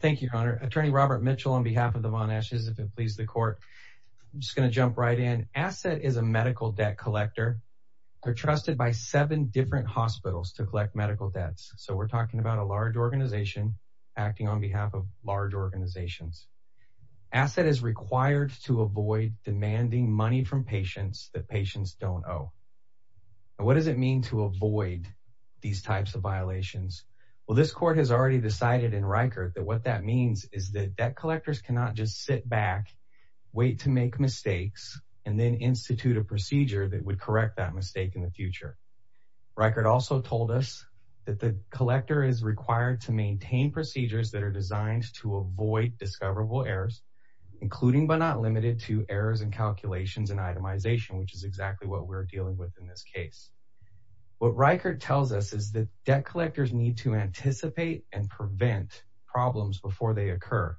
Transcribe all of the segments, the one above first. Thank you, Your Honor. Attorney Robert Mitchell on behalf of the Von Esch's, if it pleases the court, I'm just going to jump right in. Asset is a medical debt collector. They're trusted by seven different hospitals to collect medical debts. So we're talking about a large organization acting on behalf of large organizations. Asset is required to avoid demanding money from patients that patients don't owe. And what does it mean to avoid these types of violations? Well, this court has already decided in Rikert that what that means is that debt collectors cannot just sit back, wait to make mistakes, and then institute a procedure that would correct that mistake in the future. Rikert also told us that the collector is required to maintain procedures that are designed to avoid discoverable errors, including but not limited to errors and calculations and itemization, which is exactly what we're dealing with in this case. What Rikert tells us is that debt collectors need to anticipate and prevent problems before they occur.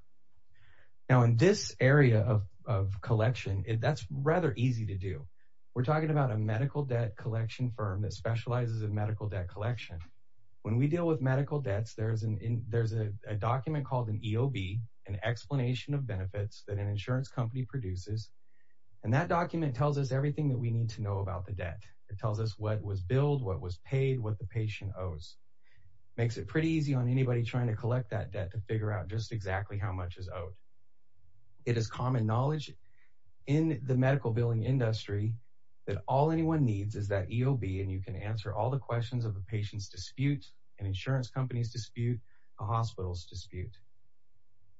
Now, in this area of collection, that's rather easy to do. We're talking about a medical debt collection firm that specializes in medical debt collection. When we deal with medical debts, there's a document called an EOB, an explanation of benefits that an insurance company produces, and that document tells us everything that we need to know about the debt. It tells us what was billed, what was paid, what the patient owes, makes it pretty easy on anybody trying to collect that debt to figure out just exactly how much is owed. It is common knowledge in the medical billing industry that all anyone needs is that EOB, and you can answer all the questions of a patient's dispute, an insurance company's dispute, a hospital's dispute.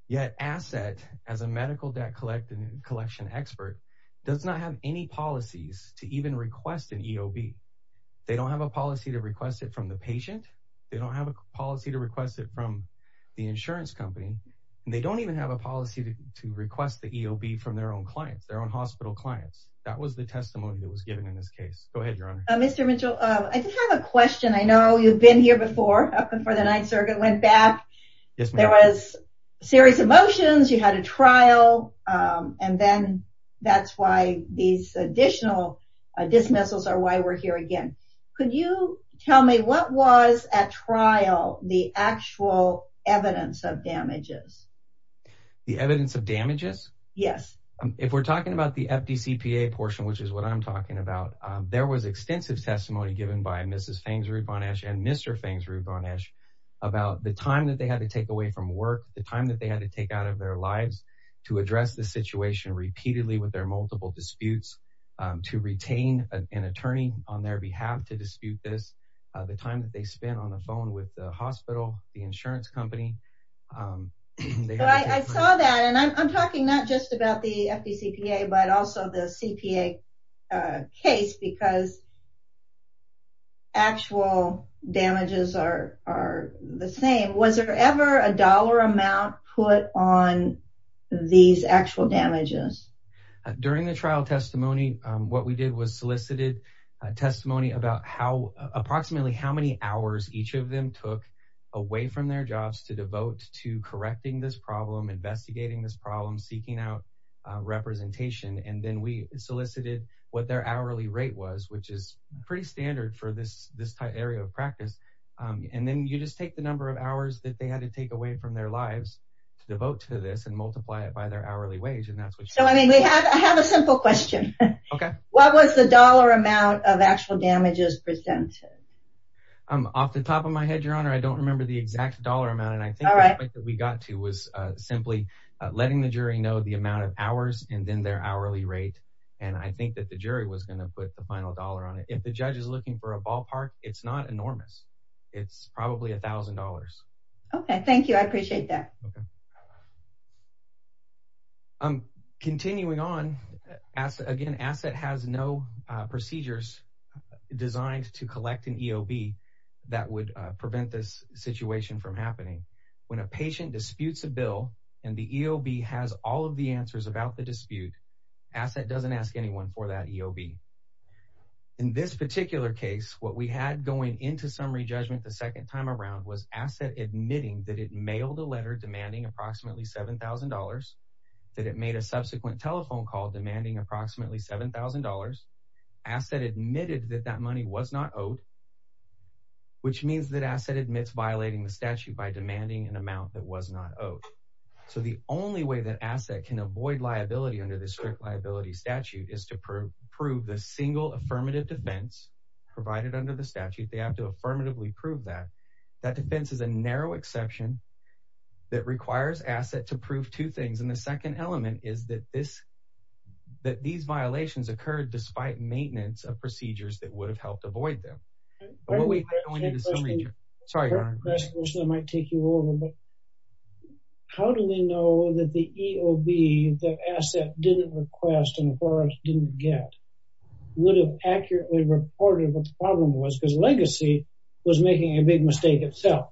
Yet, Asset, as a medical debt collection expert, does not have any policies to even request an EOB. They don't have a policy to request it from the patient. They don't have a policy to request it from the insurance company. They don't even have a policy to request the EOB from their own clients, their own hospital clients. That was the testimony that was given in this case. Go ahead, Your Honor. Mr. Mitchell, I do have a question. I know you've been here before, up before the Ninth Circuit, went back. Yes, ma'am. There was serious emotions, you had a trial, and then that's why these additional dismissals are why we're here again. Could you tell me what was, at trial, the actual evidence of damages? The evidence of damages? Yes. If we're talking about the FDCPA portion, which is what I'm talking about, there was extensive testimony given by Mrs. Fangs-Rubanesh and Mr. Fangs-Rubanesh about the time that they had to take away from work, the time that they had to take out of their lives to address the situation repeatedly with their multiple disputes, to retain an attorney on their behalf to dispute this, the time that they spent on the phone with the hospital, the insurance company. I saw that, and I'm talking not just about the FDCPA, but also the CPA case because actual damages are the same. Was there ever a dollar amount put on these actual damages? During the trial testimony, what we did was solicited a testimony about approximately how many hours each of them took away from their jobs to devote to correcting this problem, investigating this problem, seeking out representation. And then we solicited what their hourly rate was, which is pretty standard for this type area of practice. And then you just take the number of hours that they had to take away from their lives to devote to this and multiply it by their hourly wage. So, I mean, I have a simple question. What was the dollar amount of actual damages presented? Off the top of my head, Your Honor, I don't remember the exact dollar amount. And I think that we got to was simply letting the jury know the amount of hours and then their hourly rate. And I think that the jury was going to put the final dollar on it. If the judge is looking for a ballpark, it's not enormous. It's probably a thousand dollars. Okay. Thank you. I appreciate that. Okay. Continuing on, again, ASSET has no procedures designed to collect an EOB that would prevent this situation from happening. When a patient disputes a bill and the EOB has all of the answers about the dispute, ASSET doesn't ask anyone for that EOB. In this particular case, what we had going into summary judgment the second time around was ASSET admitting that it mailed a letter demanding approximately $7,000, that it made a subsequent telephone call demanding approximately $7,000, ASSET admitted that that money was not owed, which means that ASSET admits violating the statute by demanding an amount that was not owed. So the only way that ASSET can avoid liability under the strict liability statute is to prove the single affirmative defense provided under the statute, they have to affirmatively prove that. That defense is a narrow exception that requires ASSET to prove two things. And the second element is that this, that these violations occurred despite maintenance of procedures that would have helped avoid them. Sorry, Ron. How do we know that the EOB that ASSET didn't request and Forrest didn't get would have accurately reported what the problem was because Legacy was making a big mistake itself.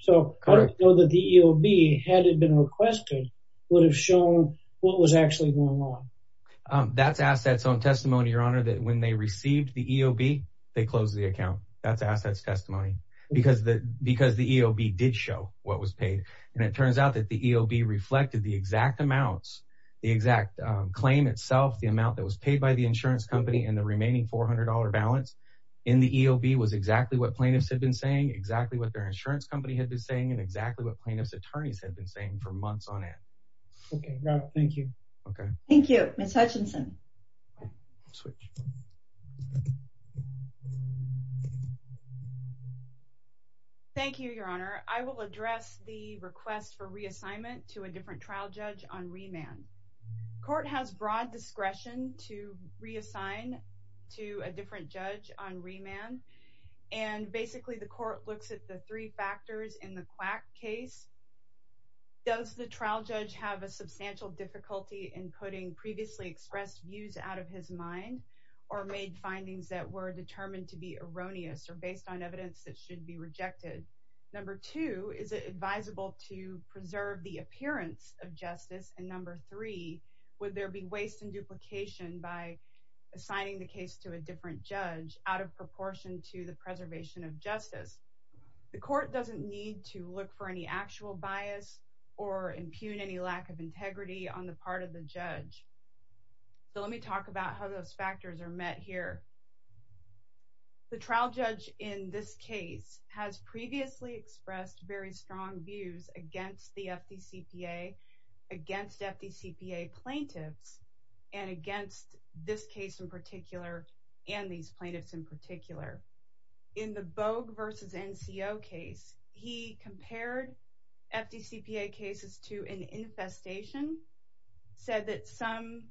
So how do we know that the EOB, had it been requested, would have shown what was actually going on? That's ASSET's own testimony, your honor, that when they received the EOB, they closed the account. That's ASSET's testimony because the EOB did show what was paid. And it turns out that the EOB reflected the exact amounts, the exact claim itself, the amount that was paid by the insurance company and the remaining $400 balance in the EOB was exactly what plaintiffs had been saying, exactly what their insurance company had been saying, and exactly what plaintiff's attorneys had been saying for months on end. Okay, thank you. Okay. Thank you. Ms. Hutchinson. Thank you, your honor. I will address the request for reassignment to a different trial judge on remand. Court has broad discretion to reassign to a different judge on remand. And basically the court looks at the three factors in the quack case. Does the trial judge have a substantial difficulty in putting previously expressed views out of his mind or made findings that were determined to be erroneous or based on evidence that should be rejected? Number two, is it advisable to preserve the appearance of justice? And number three, would there be waste and duplication by assigning the case to a different judge out of proportion to the preservation of justice? The court doesn't need to look for any actual bias or impugn any lack of integrity on the part of the judge. So let me talk about how those factors are met here. The trial judge in this case has previously expressed very strong views against the FDCPA, against FDCPA plaintiffs, and against this case in particular and these plaintiffs in particular. In the Bogue versus NCO case, he compared FDCPA cases to an infestation, said that some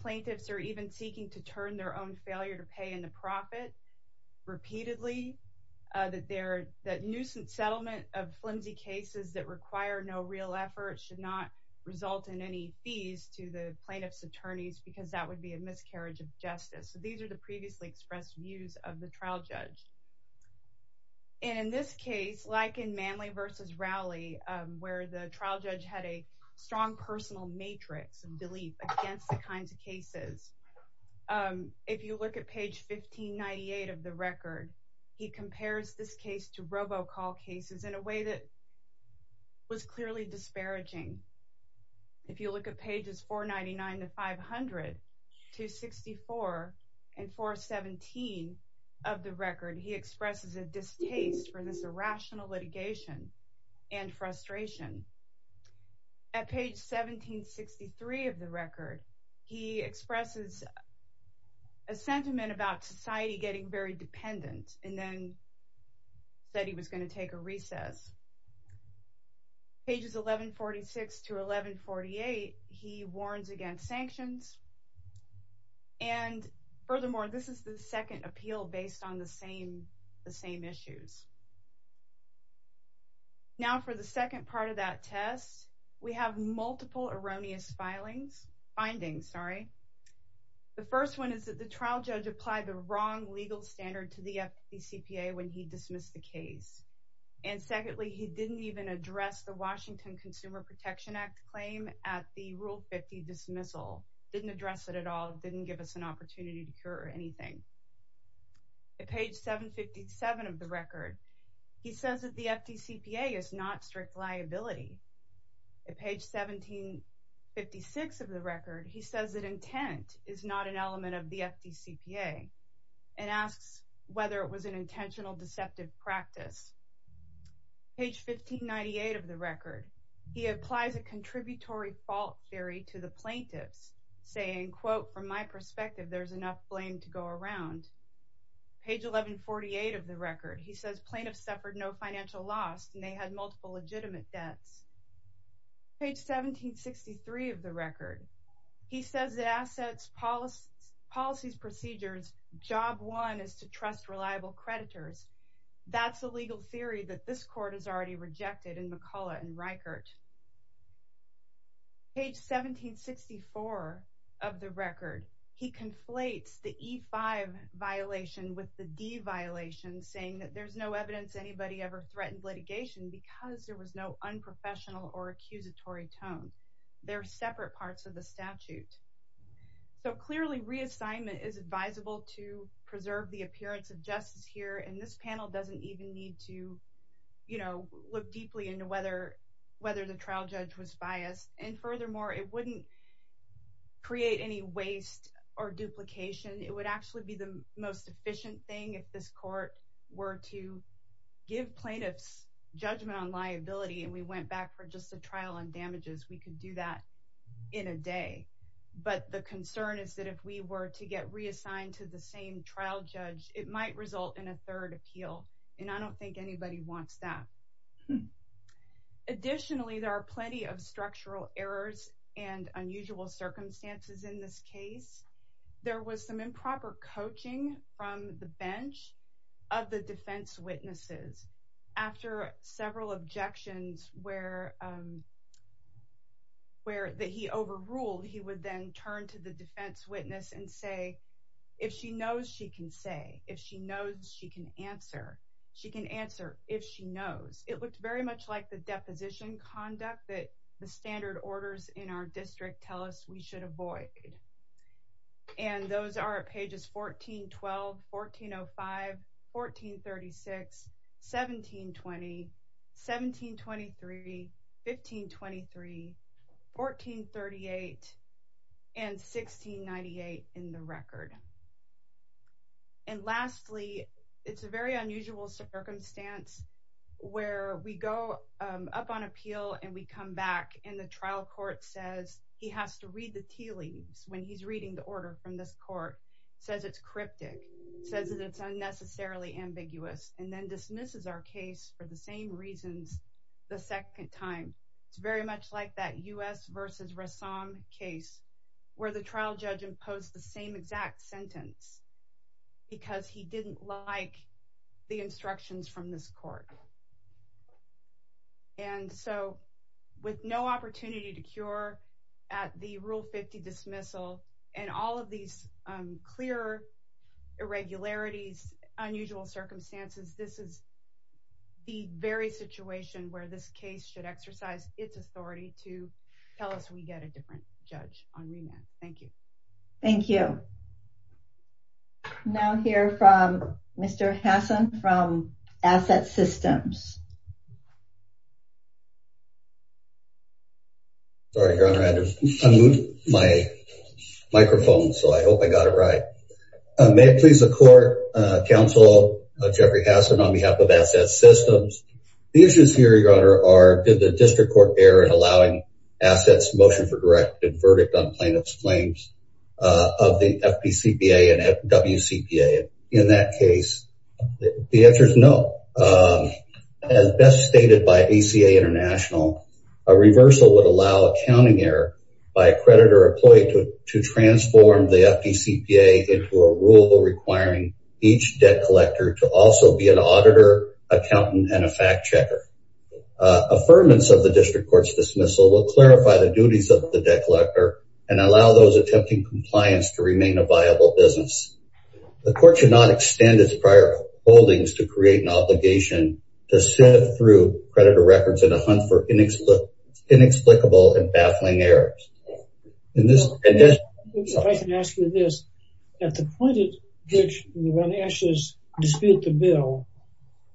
plaintiffs are even seeking to turn their own failure to pay in the profit repeatedly, that nuisance settlement of flimsy cases that require no real effort should not result in any fees to the plaintiff's attorneys because that would be a miscarriage of justice. So these are the previously expressed views of the trial judge. And in this case, like in Manley versus Rowley, where the trial judge had a strong personal matrix and belief against the kinds of cases, if you look at page 1598 of the record, he compares this case to robocall cases in a way that was clearly disparaging. If you look at pages 499 to 500, 264 and 417 of the record, he expresses a distaste for this irrational litigation and frustration. At page 1763 of the record, he expresses a sentiment about society getting very dependent and then said he was going to take a recess. Pages 1146 to 1148, he warns against sanctions and furthermore, this is the second appeal based on the same issues. Now, for the second part of that test, we have multiple erroneous findings. The first one is that the trial judge applied the wrong legal standard to the FPCPA when he dismissed the case. And secondly, he didn't even address the Washington Consumer Protection Act claim at the Rule 50 dismissal, didn't address it at all, didn't give us an opportunity to hear anything. At page 757 of the record, he says that the FPCPA is not strict liability. At page 1756 of the record, he says that intent is not an element of the FPCPA and asks whether it was an intentional deceptive practice. Page 1598 of the record, he applies a contributory fault theory to the plaintiffs saying, quote, from my perspective, there's enough blame to go around. Page 1148 of the record, he says plaintiffs suffered no financial loss and they had multiple legitimate debts. Page 1763 of the record, he says that assets policies procedures, job one is to trust reliable creditors. That's a legal theory that this court has already rejected in McCulloch and Reichert. Page 1764 of the record, he conflates the E-5 violation with the D violation saying that there's no evidence anybody ever threatened litigation because there was no unprofessional or accusatory tone. They're separate parts of the statute. So clearly, reassignment is advisable to preserve the appearance of justice here and this panel doesn't even need to, you know, look deeply into whether the trial judge was biased. And furthermore, it wouldn't create any waste or duplication. It would actually be the most efficient thing if this court were to give plaintiffs judgment on liability and we went back for just a trial on damages. We could do that in a day. But the concern is that if we were to get reassigned to the same trial judge, it might result in a third appeal and I don't think anybody wants that. Additionally, there are plenty of structural errors and unusual circumstances in this case. There was some improper coaching from the bench of the defense witnesses. After several objections that he overruled, he would then turn to the defense witness and say, if she knows she can say, if she knows she can answer, she can answer if she knows. It looked very much like the deposition conduct that the standard orders in our district tell us we should avoid. And those are at pages 1412, 1405, 1436, 1720, 1723, 1523, 1438, and 1698. And lastly, it's a very unusual circumstance where we go up on appeal and we come back and the trial court says he has to read the tea leaves when he's reading the order from this court, says it's cryptic, says that it's unnecessarily ambiguous, and then dismisses our case for the same reasons the second time. It's very much like that U.S. versus Rassam case where the trial judge imposed the same exact sentence because he didn't like the instructions from this court. And so with no opportunity to cure at the Rule 50 dismissal and all of these clear irregularities, unusual circumstances, this is the very situation where this case should exercise its authority to tell us we get a different judge on remand. Thank you. Thank you. Now hear from Mr. Hassan from Asset Systems. Sorry, Your Honor, I had to unmute my microphone, so I hope I got it right. May it please the court, counsel Jeffrey Hassan on behalf of Asset Systems. The issues here, Your Honor, are did the district court error in allowing assets motion for directed verdict on plaintiff's claims of the FPCPA and WCPA in that case? The answer is no. As best stated by ACA International, a reversal would allow accounting error by a creditor or employee to transform the FPCPA into a rule requiring each debt collector to sign a fact checker. Affirmance of the district court's dismissal will clarify the duties of the debt collector and allow those attempting compliance to remain a viable business. The court should not extend its prior holdings to create an obligation to sift through creditor records in a hunt for inexplicable and baffling errors. In this case, if I can ask you this, at the point at which one ashes dispute the bill,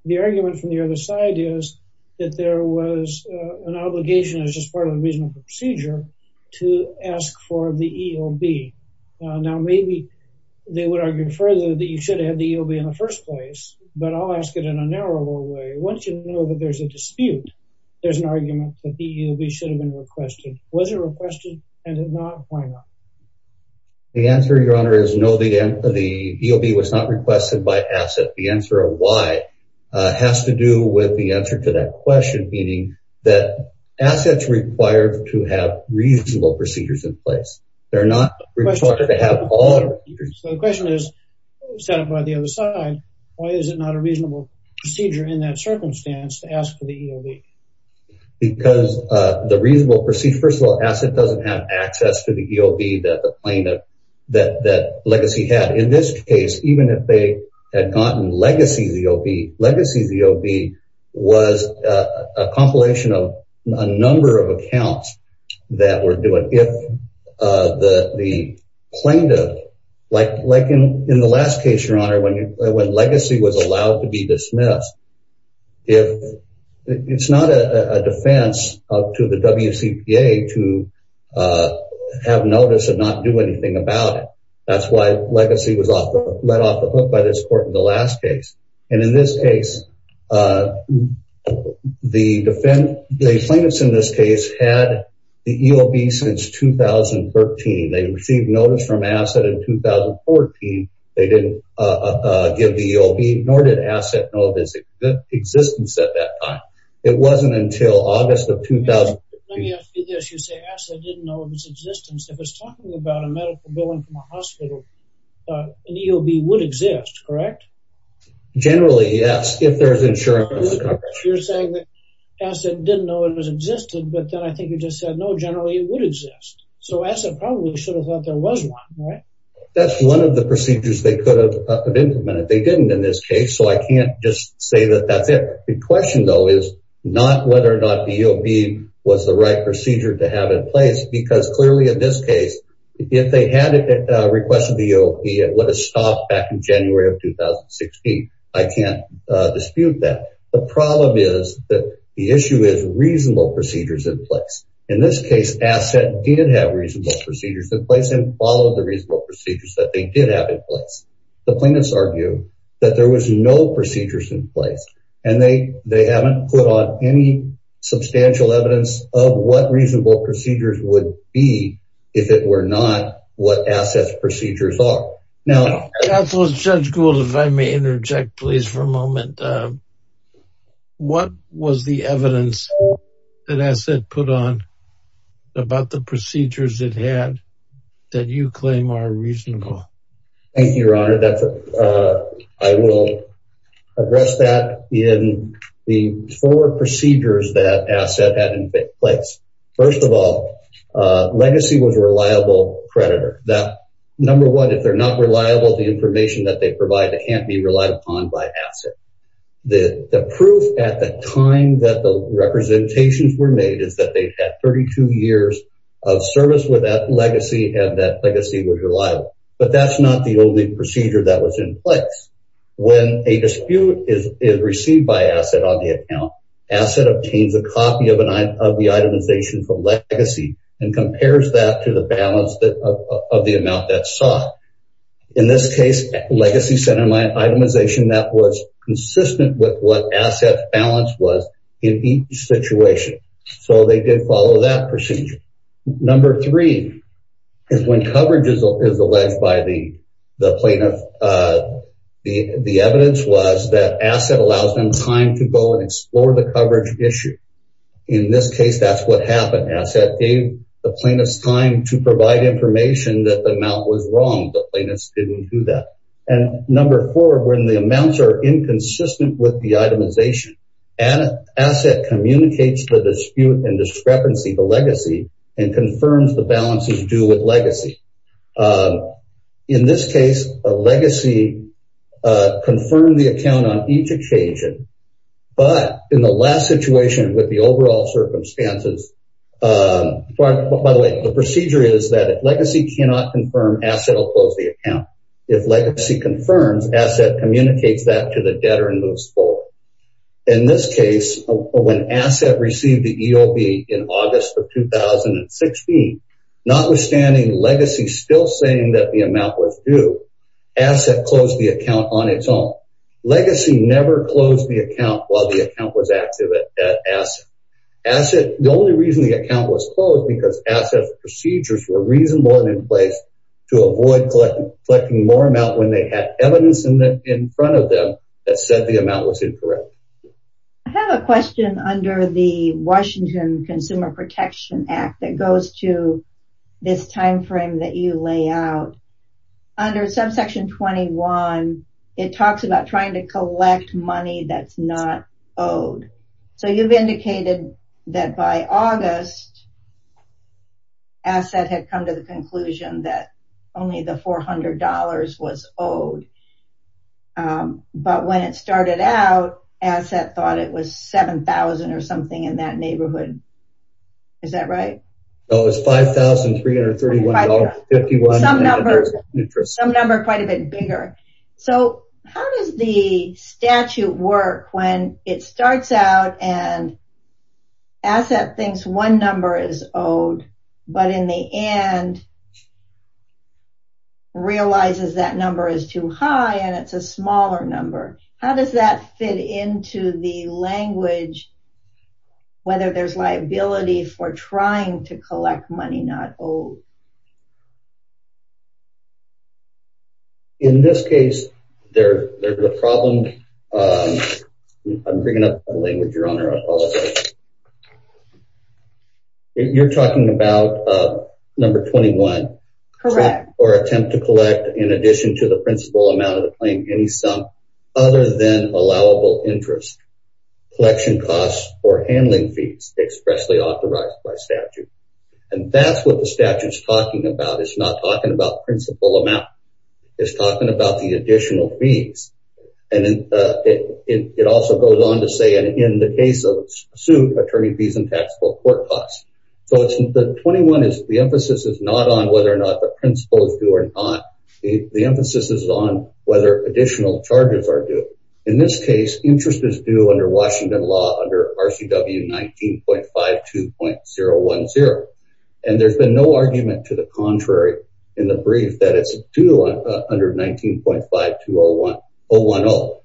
the argument from the other side is that there was an obligation as just part of the reasonable procedure to ask for the EOB. Now, maybe they would argue further that you should have the EOB in the first place, but I'll ask it in a narrower way. Once you know that there's a dispute, there's an argument that the EOB should have been requested. Was it requested and if not, why not? The answer, Your Honor, is no, the EOB was not requested by Asset. The answer of why has to do with the answer to that question, meaning that Asset's required to have reasonable procedures in place. They're not required to have all the procedures. So the question is, set up by the other side, why is it not a reasonable procedure in that circumstance to ask for the EOB? Because the reasonable procedure, first of all, Asset doesn't have access to the EOB that the plaintiff, that Legacy had. In this case, even if they had gotten Legacy's EOB, Legacy's EOB was a compilation of a number of accounts that were doing, if the plaintiff, like in the last case, Your Honor, when Legacy was allowed to be dismissed, it's not a defense to the WCPA to have notice and not do anything about it. That's why Legacy was let off the hook by this court in the last case. And in this case, the defendant, the plaintiffs in this case had the EOB since 2013, they received notice from Asset in 2014, they didn't give the EOB, nor did Asset know of its existence at that time. It wasn't until August of 2015. Let me ask you this, you say Asset didn't know of its existence. If it's talking about a medical billing from a hospital, an EOB would exist, correct? Generally, yes, if there's insurance coverage. You're saying that Asset didn't know it existed, but then I think you just said no, generally it would exist. So Asset probably should have thought there was one, right? That's one of the procedures they could have implemented. They didn't in this case. So I can't just say that that's it. The question though is not whether or not the EOB was the right procedure to have in place, because clearly in this case, if they had requested the EOB, it would have stopped back in January of 2016. I can't dispute that. The problem is that the issue is reasonable procedures in place. In this case, Asset did have reasonable procedures in place and followed the reasonable procedures that they did have in place. The plaintiffs argue that there was no procedures in place and they haven't put on any substantial evidence of what reasonable procedures would be if it were not what Asset's procedures are. Now- Counselor, Judge Gould, if I may interject, please for a moment. What was the evidence that Asset put on about the procedures it had that you claim are reasonable? Thank you, Your Honor. I will address that in the four procedures that Asset had in place. First of all, legacy was a reliable creditor. Number one, if they're not reliable, the information that they provide can't be relied upon by Asset. The proof at the time that the representations were made is that they had 32 years of service with that legacy and that legacy was reliable. But that's not the only procedure that was in place. When a dispute is received by Asset on the account, Asset obtains a copy of the itemization from legacy and compares that to the balance of the amount that's sought. In this case, legacy sent an itemization that was consistent with what Asset's balance was in each situation. So they did follow that procedure. Number three, is when coverage is alleged by the plaintiff, the evidence was that Asset allows them time to go and explore the coverage issue. In this case, that's what happened. Asset gave the plaintiff's time to provide information that the amount was wrong. The plaintiff didn't do that. And number four, when the amounts are inconsistent with the itemization, Asset communicates the dispute and discrepancy, the legacy, and confirms the balances due with legacy. In this case, a legacy confirmed the account on each occasion, but in the last situation with the overall circumstances, by the way, the procedure is that if legacy cannot confirm, Asset will close the account. If legacy confirms, Asset communicates that to the debtor and moves forward. In this case, when Asset received the EOB in August of 2016, notwithstanding legacy still saying that the amount was due, Asset closed the account on its own. Legacy never closed the account while the account was active at Asset. Asset, the only reason the account was closed, because Asset's procedures were reasonable and in place to avoid collecting more amount when they had evidence in front of them that said the amount was incorrect. I have a question under the Washington Consumer Protection Act that goes to this time frame that you lay out. Under subsection 21, it talks about trying to collect money that's not owed. So you've indicated that by August, Asset had come to the conclusion that only the $400 was owed. But when it started out, Asset thought it was $7,000 or something in that neighborhood. Is that right? No, it was $5,331.51. Some number quite a bit bigger. So how does the statute work when it starts out and Asset thinks one number is too high and it's a smaller number? How does that fit into the language, whether there's liability for trying to collect money not owed? In this case, there's a problem. I'm bringing up a language, Your Honor, I apologize. You're talking about number 21. Correct. Or attempt to collect, in addition to the principal amount of the claim, any sum other than allowable interest, collection costs, or handling fees expressly authorized by statute. And that's what the statute is talking about. It's not talking about principal amount. It's talking about the additional fees. And it also goes on to say, in the case of suit, attorney fees and taxable court costs. So the 21 is the emphasis is not on whether or not the principal is due or not. The emphasis is on whether additional charges are due. In this case, interest is due under Washington law under RCW 19.52.010. And there's been no argument to the contrary in the brief that it's due under 19.52.010.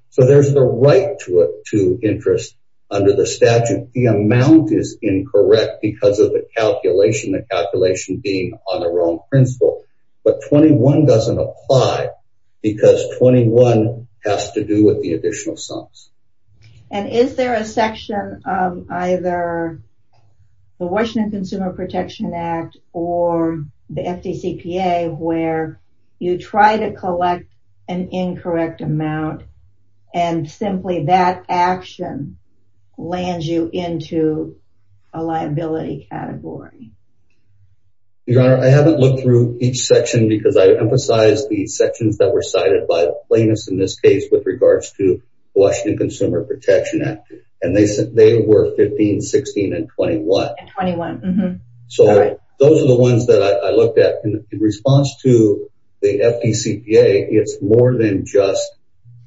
So there's the right to interest under the statute. The amount is incorrect because of the calculation, the calculation being on the wrong principal. But 21 doesn't apply because 21 has to do with the additional sums. And is there a section of either the Washington Consumer Protection Act or the FDCPA where you try to collect an incorrect amount and simply that action lands you into a liability category? Your Honor, I haven't looked through each section because I emphasize the sections that were cited by the plaintiffs in this case with regards to Washington Consumer Protection Act. And they were 15, 16 and 21. 21. So those are the ones that I looked at in response to the FDCPA. It's more than just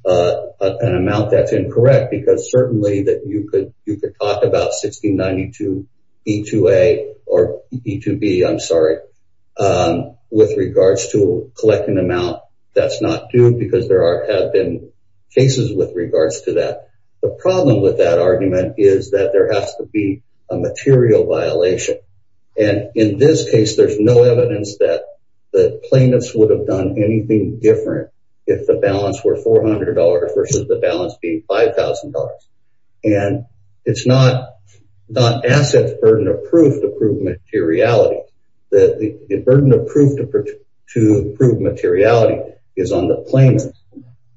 an amount that's incorrect because certainly that you could talk about 1692B2A or B2B, I'm sorry, with regards to collecting an amount that's not due because there have been cases with regards to that. The problem with that argument is that there has to be a material violation. And in this case, there's no evidence that the plaintiffs would have done anything different if the balance were $400 versus the balance being $5,000. And it's not asset burden of proof to prove materiality. The burden of proof to prove materiality is on the plaintiffs.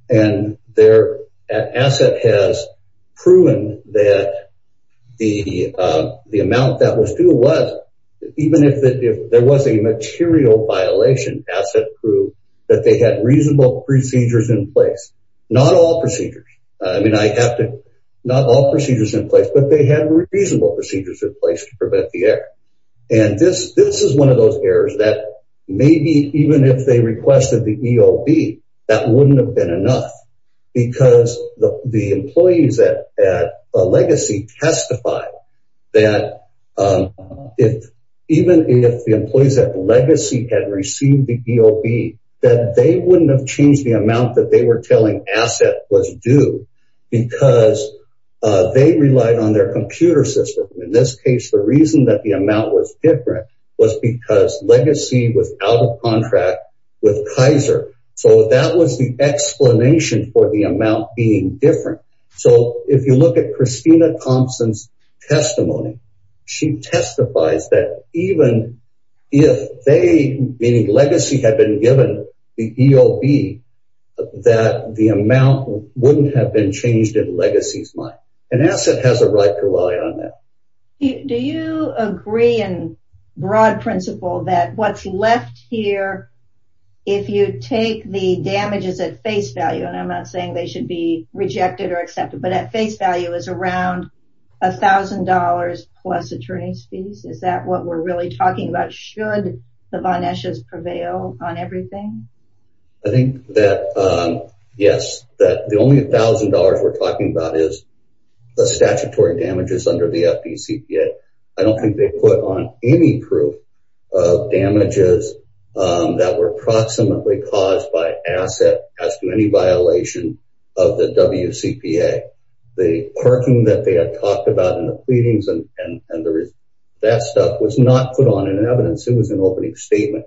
And their asset has proven that the amount that was due was, even if there was a material violation, asset proved that they had reasonable procedures in place. Not all procedures. I mean, I have to, not all procedures in place, but they had reasonable procedures in place to prevent the error. And this is one of those errors that maybe even if they requested the EOB, that wouldn't have been enough because the employees at Legacy testified that even if the employees at Legacy had received the EOB, that they wouldn't have changed the because they relied on their computer system. In this case, the reason that the amount was different was because Legacy was out of contract with Kaiser. So that was the explanation for the amount being different. So if you look at Christina Thompson's testimony, she testifies that even if they, meaning Legacy had been given the EOB, that the amount wouldn't have been changed in Legacy's mind. And asset has a right to rely on that. Do you agree in broad principle that what's left here, if you take the damages at face value, and I'm not saying they should be rejected or accepted, but at face value is around a thousand dollars plus attorney's fees, is that what we're really talking about? Should the Von Esch's prevail on everything? I think that, yes, that the only thousand dollars we're talking about is the statutory damages under the FDCPA. I don't think they put on any proof of damages that were approximately caused by asset as to any violation of the WCPA. The parking that they had talked about in the pleadings and that stuff was not put on an evidence. It was an opening statement.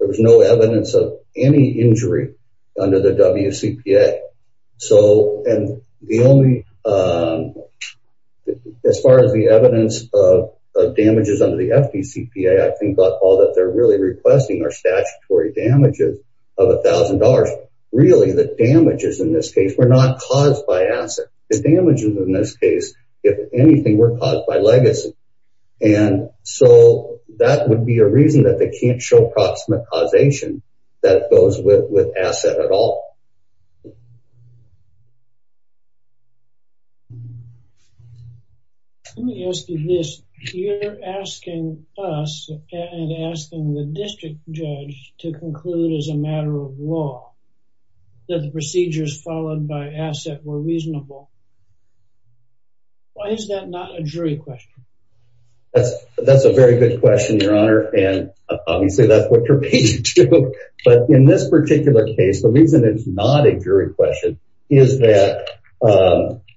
There was no evidence of any injury under the WCPA. So, and the only, as far as the evidence of damages under the FDCPA, I think all that they're really requesting are statutory damages of a thousand dollars. Really the damages in this case were not caused by asset. The damages in this case, if anything, were caused by Legacy. And so that would be a reason that they can't show proximate causation that goes with asset at all. Let me ask you this, you're asking us and asking the district judge to conclude as a matter of law, that the procedures followed by asset were reasonable. Why is that not a jury question? That's, that's a very good question, your honor. And obviously that's what you're paging to, but in this particular case, the reason it's not a jury question is that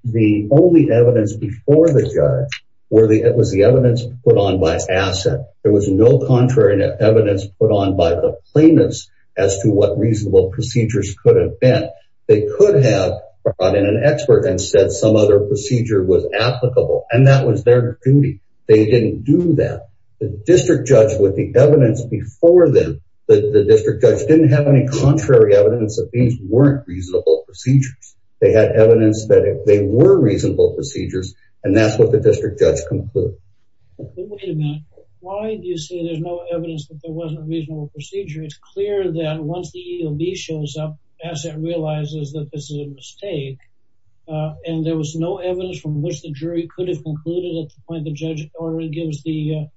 the only evidence before the judge were the, it was the evidence put on by asset. There was no contrary evidence put on by the plaintiffs as to what reasonable procedures could have been. They could have brought in an expert and said some other procedure was applicable and that was their duty. They didn't do that. The district judge with the evidence before them, the district judge didn't have any contrary evidence that these weren't reasonable procedures. They had evidence that they were reasonable procedures and that's what the district judge concluded. Wait a minute. Why do you say there's no evidence that there wasn't a reasonable procedure? It's clear that once the EOB shows up, asset realizes that this is a mistake. And there was no evidence from which the jury could have concluded at the point the judge already gives the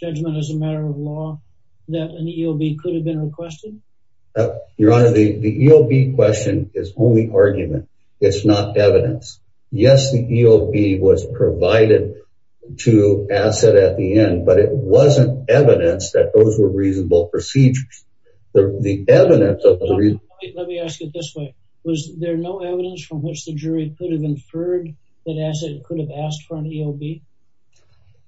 judgment as a matter of law that an EOB could have been requested? Your honor, the EOB question is only argument. It's not evidence. Yes. The EOB was provided to asset at the end, but it wasn't evidence that those were reasonable procedures. The evidence of the reason. Let me ask it this way. Was there no evidence from which the jury could have inferred that asset could have asked for an EOB?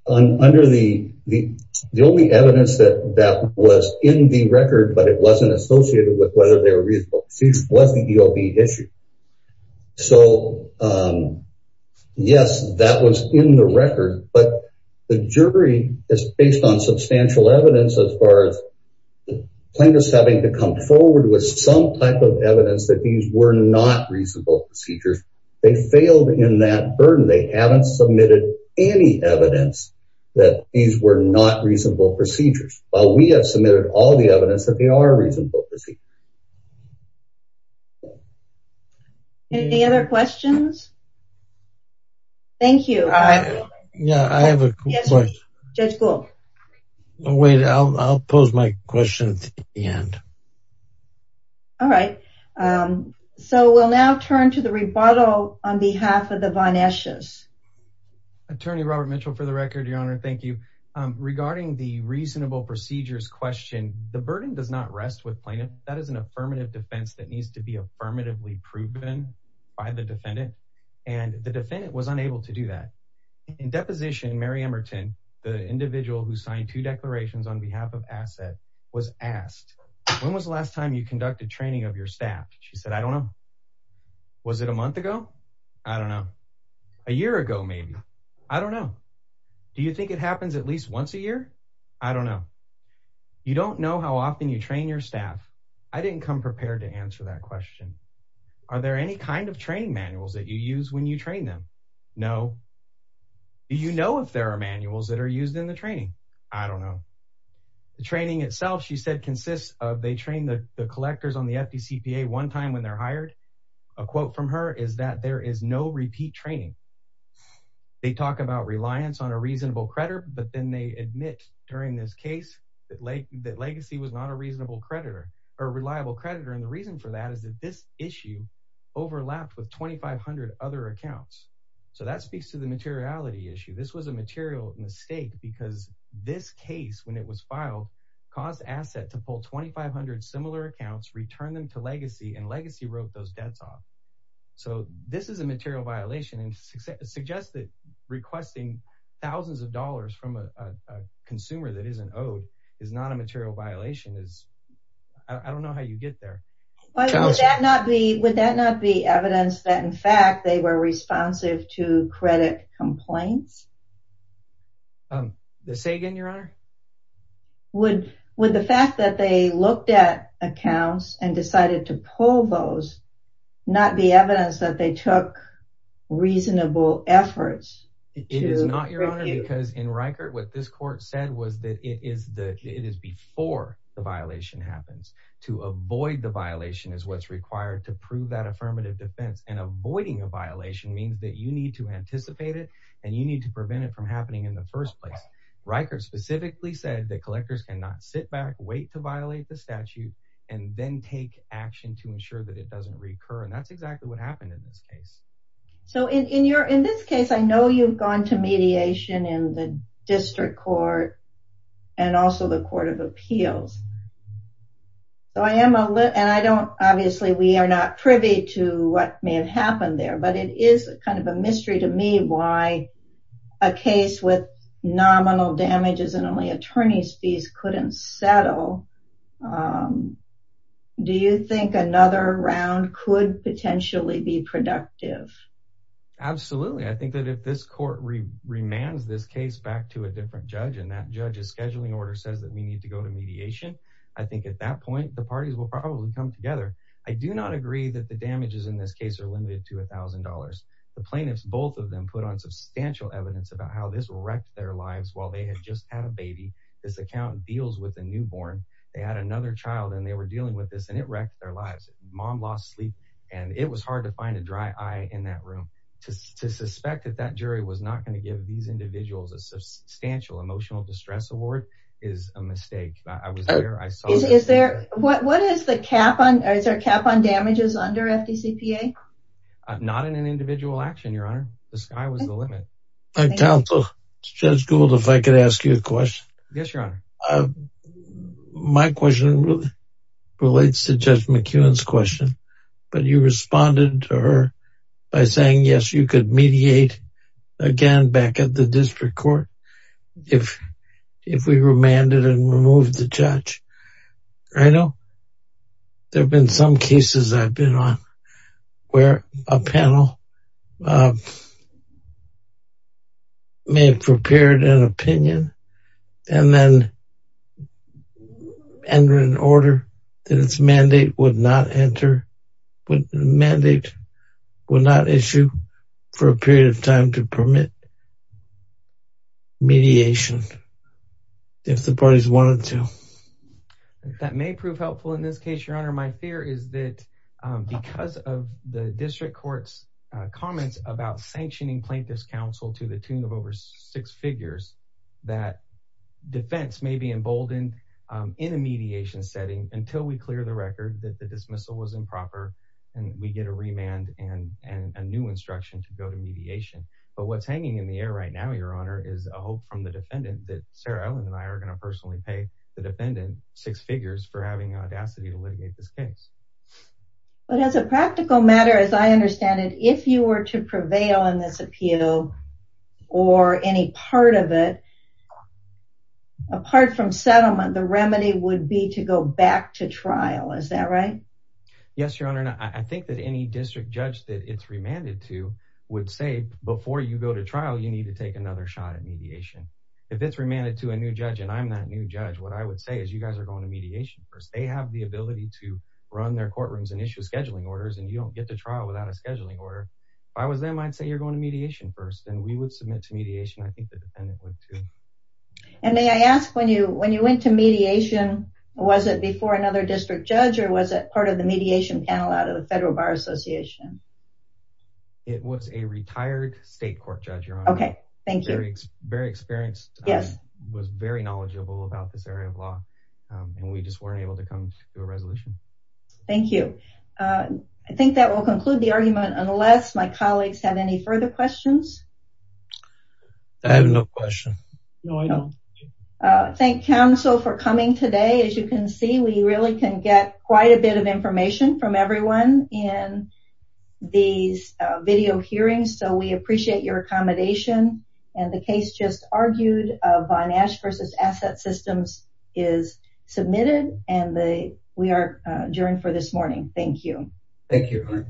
Under the, the only evidence that that was in the record, but it wasn't associated with whether they were reasonable procedures was the EOB issue. So, yes, that was in the record, but the jury is based on substantial evidence as far as plaintiffs having to come forward with some type of evidence that these were not reasonable procedures. They failed in that burden. They haven't submitted any evidence that these were not reasonable procedures. While we have submitted all the evidence that they are reasonable procedures. Any other questions? Thank you. Yeah. I have a question. Judge Gould. Wait, I'll, I'll pose my questions at the end. All right. So we'll now turn to the rebuttal on behalf of the Von Esch's. Attorney Robert Mitchell for the record, your honor. Thank you. Regarding the reasonable procedures question, the burden does not rest with plaintiff that is an affirmative defense that needs to be affirmatively proven by the defendant and the defendant was unable to do that. In deposition, Mary Emerton, the individual who signed two declarations on behalf of asset was asked, when was the last time you conducted training of your staff? She said, I don't know. Was it a month ago? I don't know. A year ago, maybe. I don't know. Do you think it happens at least once a year? I don't know. You don't know how often you train your staff. I didn't come prepared to answer that question. Are there any kind of training manuals that you use when you train them? No. Do you know if there are manuals that are used in the training? I don't know. The training itself, she said, consists of, they train the collectors on the FECPA one time when they're hired. A quote from her is that there is no repeat training. They talk about reliance on a reasonable creditor, but then they admit during this case that legacy was not a reasonable creditor or reliable creditor. And the reason for that is that this issue overlapped with 2,500 other accounts. So that speaks to the materiality issue. This was a material mistake because this case, when it was filed, caused to legacy and legacy wrote those debts off. So this is a material violation and suggested requesting thousands of dollars from a consumer that isn't owed is not a material violation. I don't know how you get there. Would that not be evidence that in fact, they were responsive to credit complaints? Say again, your honor? Would the fact that they looked at accounts and decided to pull those not be evidence that they took reasonable efforts? It is not your honor because in Rikert, what this court said was that it is before the violation happens to avoid the violation is what's required to prove that affirmative defense and avoiding a violation means that you need to anticipate it and you need to prevent it from happening in the first place. Rikert specifically said that collectors cannot sit back, wait to violate the statute, and then take action to ensure that it doesn't recur. And that's exactly what happened in this case. So in your, in this case, I know you've gone to mediation in the district court and also the court of appeals. So I am a lit and I don't, obviously we are not privy to what may have happened there, but it is kind of a mystery to me why a case with nominal damages and only attorney's fees couldn't settle, do you think another round could potentially be productive? Absolutely. I think that if this court remands this case back to a different judge and that judge's scheduling order says that we need to go to mediation, I think at that point, the parties will probably come together. I do not agree that the damages in this case are limited to a thousand dollars. The plaintiffs, both of them put on substantial evidence about how this will while they had just had a baby, this accountant deals with a newborn. They had another child and they were dealing with this and it wrecked their lives, mom lost sleep, and it was hard to find a dry eye in that room to suspect that that jury was not going to give these individuals a substantial emotional distress award is a mistake. I was there. I saw it. Is there, what, what is the cap on, is there a cap on damages under FDCPA? Not in an individual action, your honor, the sky was the limit. My counsel, Judge Gould, if I could ask you a question. Yes, your honor. My question relates to Judge McEwen's question, but you responded to her by saying, yes, you could mediate again back at the district court if, if we remanded and removed the judge. I know there've been some cases I've been on where a panel, may have prepared an opinion and then enter an order that its mandate would not enter, would mandate, would not issue for a period of time to permit mediation if the parties wanted to. That may prove helpful in this case, your honor. My fear is that because of the district court's comments about sanctioning this counsel to the tune of over six figures, that defense may be emboldened in a mediation setting until we clear the record that the dismissal was improper and we get a remand and a new instruction to go to mediation. But what's hanging in the air right now, your honor, is a hope from the defendant that Sarah Ellen and I are going to personally pay the defendant six figures for having audacity to litigate this case. But as a practical matter, as I understand it, if you were to prevail on this appeal or any part of it, apart from settlement, the remedy would be to go back to trial. Is that right? Yes, your honor. And I think that any district judge that it's remanded to would say, before you go to trial, you need to take another shot at mediation. If it's remanded to a new judge and I'm that new judge, what I would say is you guys are going to mediation first. They have the ability to run their courtrooms and issue scheduling orders and you don't get to trial without a scheduling order. If I was them, I'd say you're going to mediation first. Then we would submit to mediation. I think the defendant would too. And may I ask when you, when you went to mediation, was it before another district judge or was it part of the mediation panel out of the Federal Bar Association? It was a retired state court judge, your honor. Okay. Thank you. Very experienced. Yes. Was very knowledgeable about this area of law. And we just weren't able to come to a resolution. Thank you. I think that will conclude the argument unless my colleagues have any further questions. I have no question. No, I don't. Thank counsel for coming today. As you can see, we really can get quite a bit of information from everyone in these video hearings. So we appreciate your accommodation. And the case just argued Von Asch versus Asset Systems is submitted. And we are adjourned for this morning. Thank you. Thank you.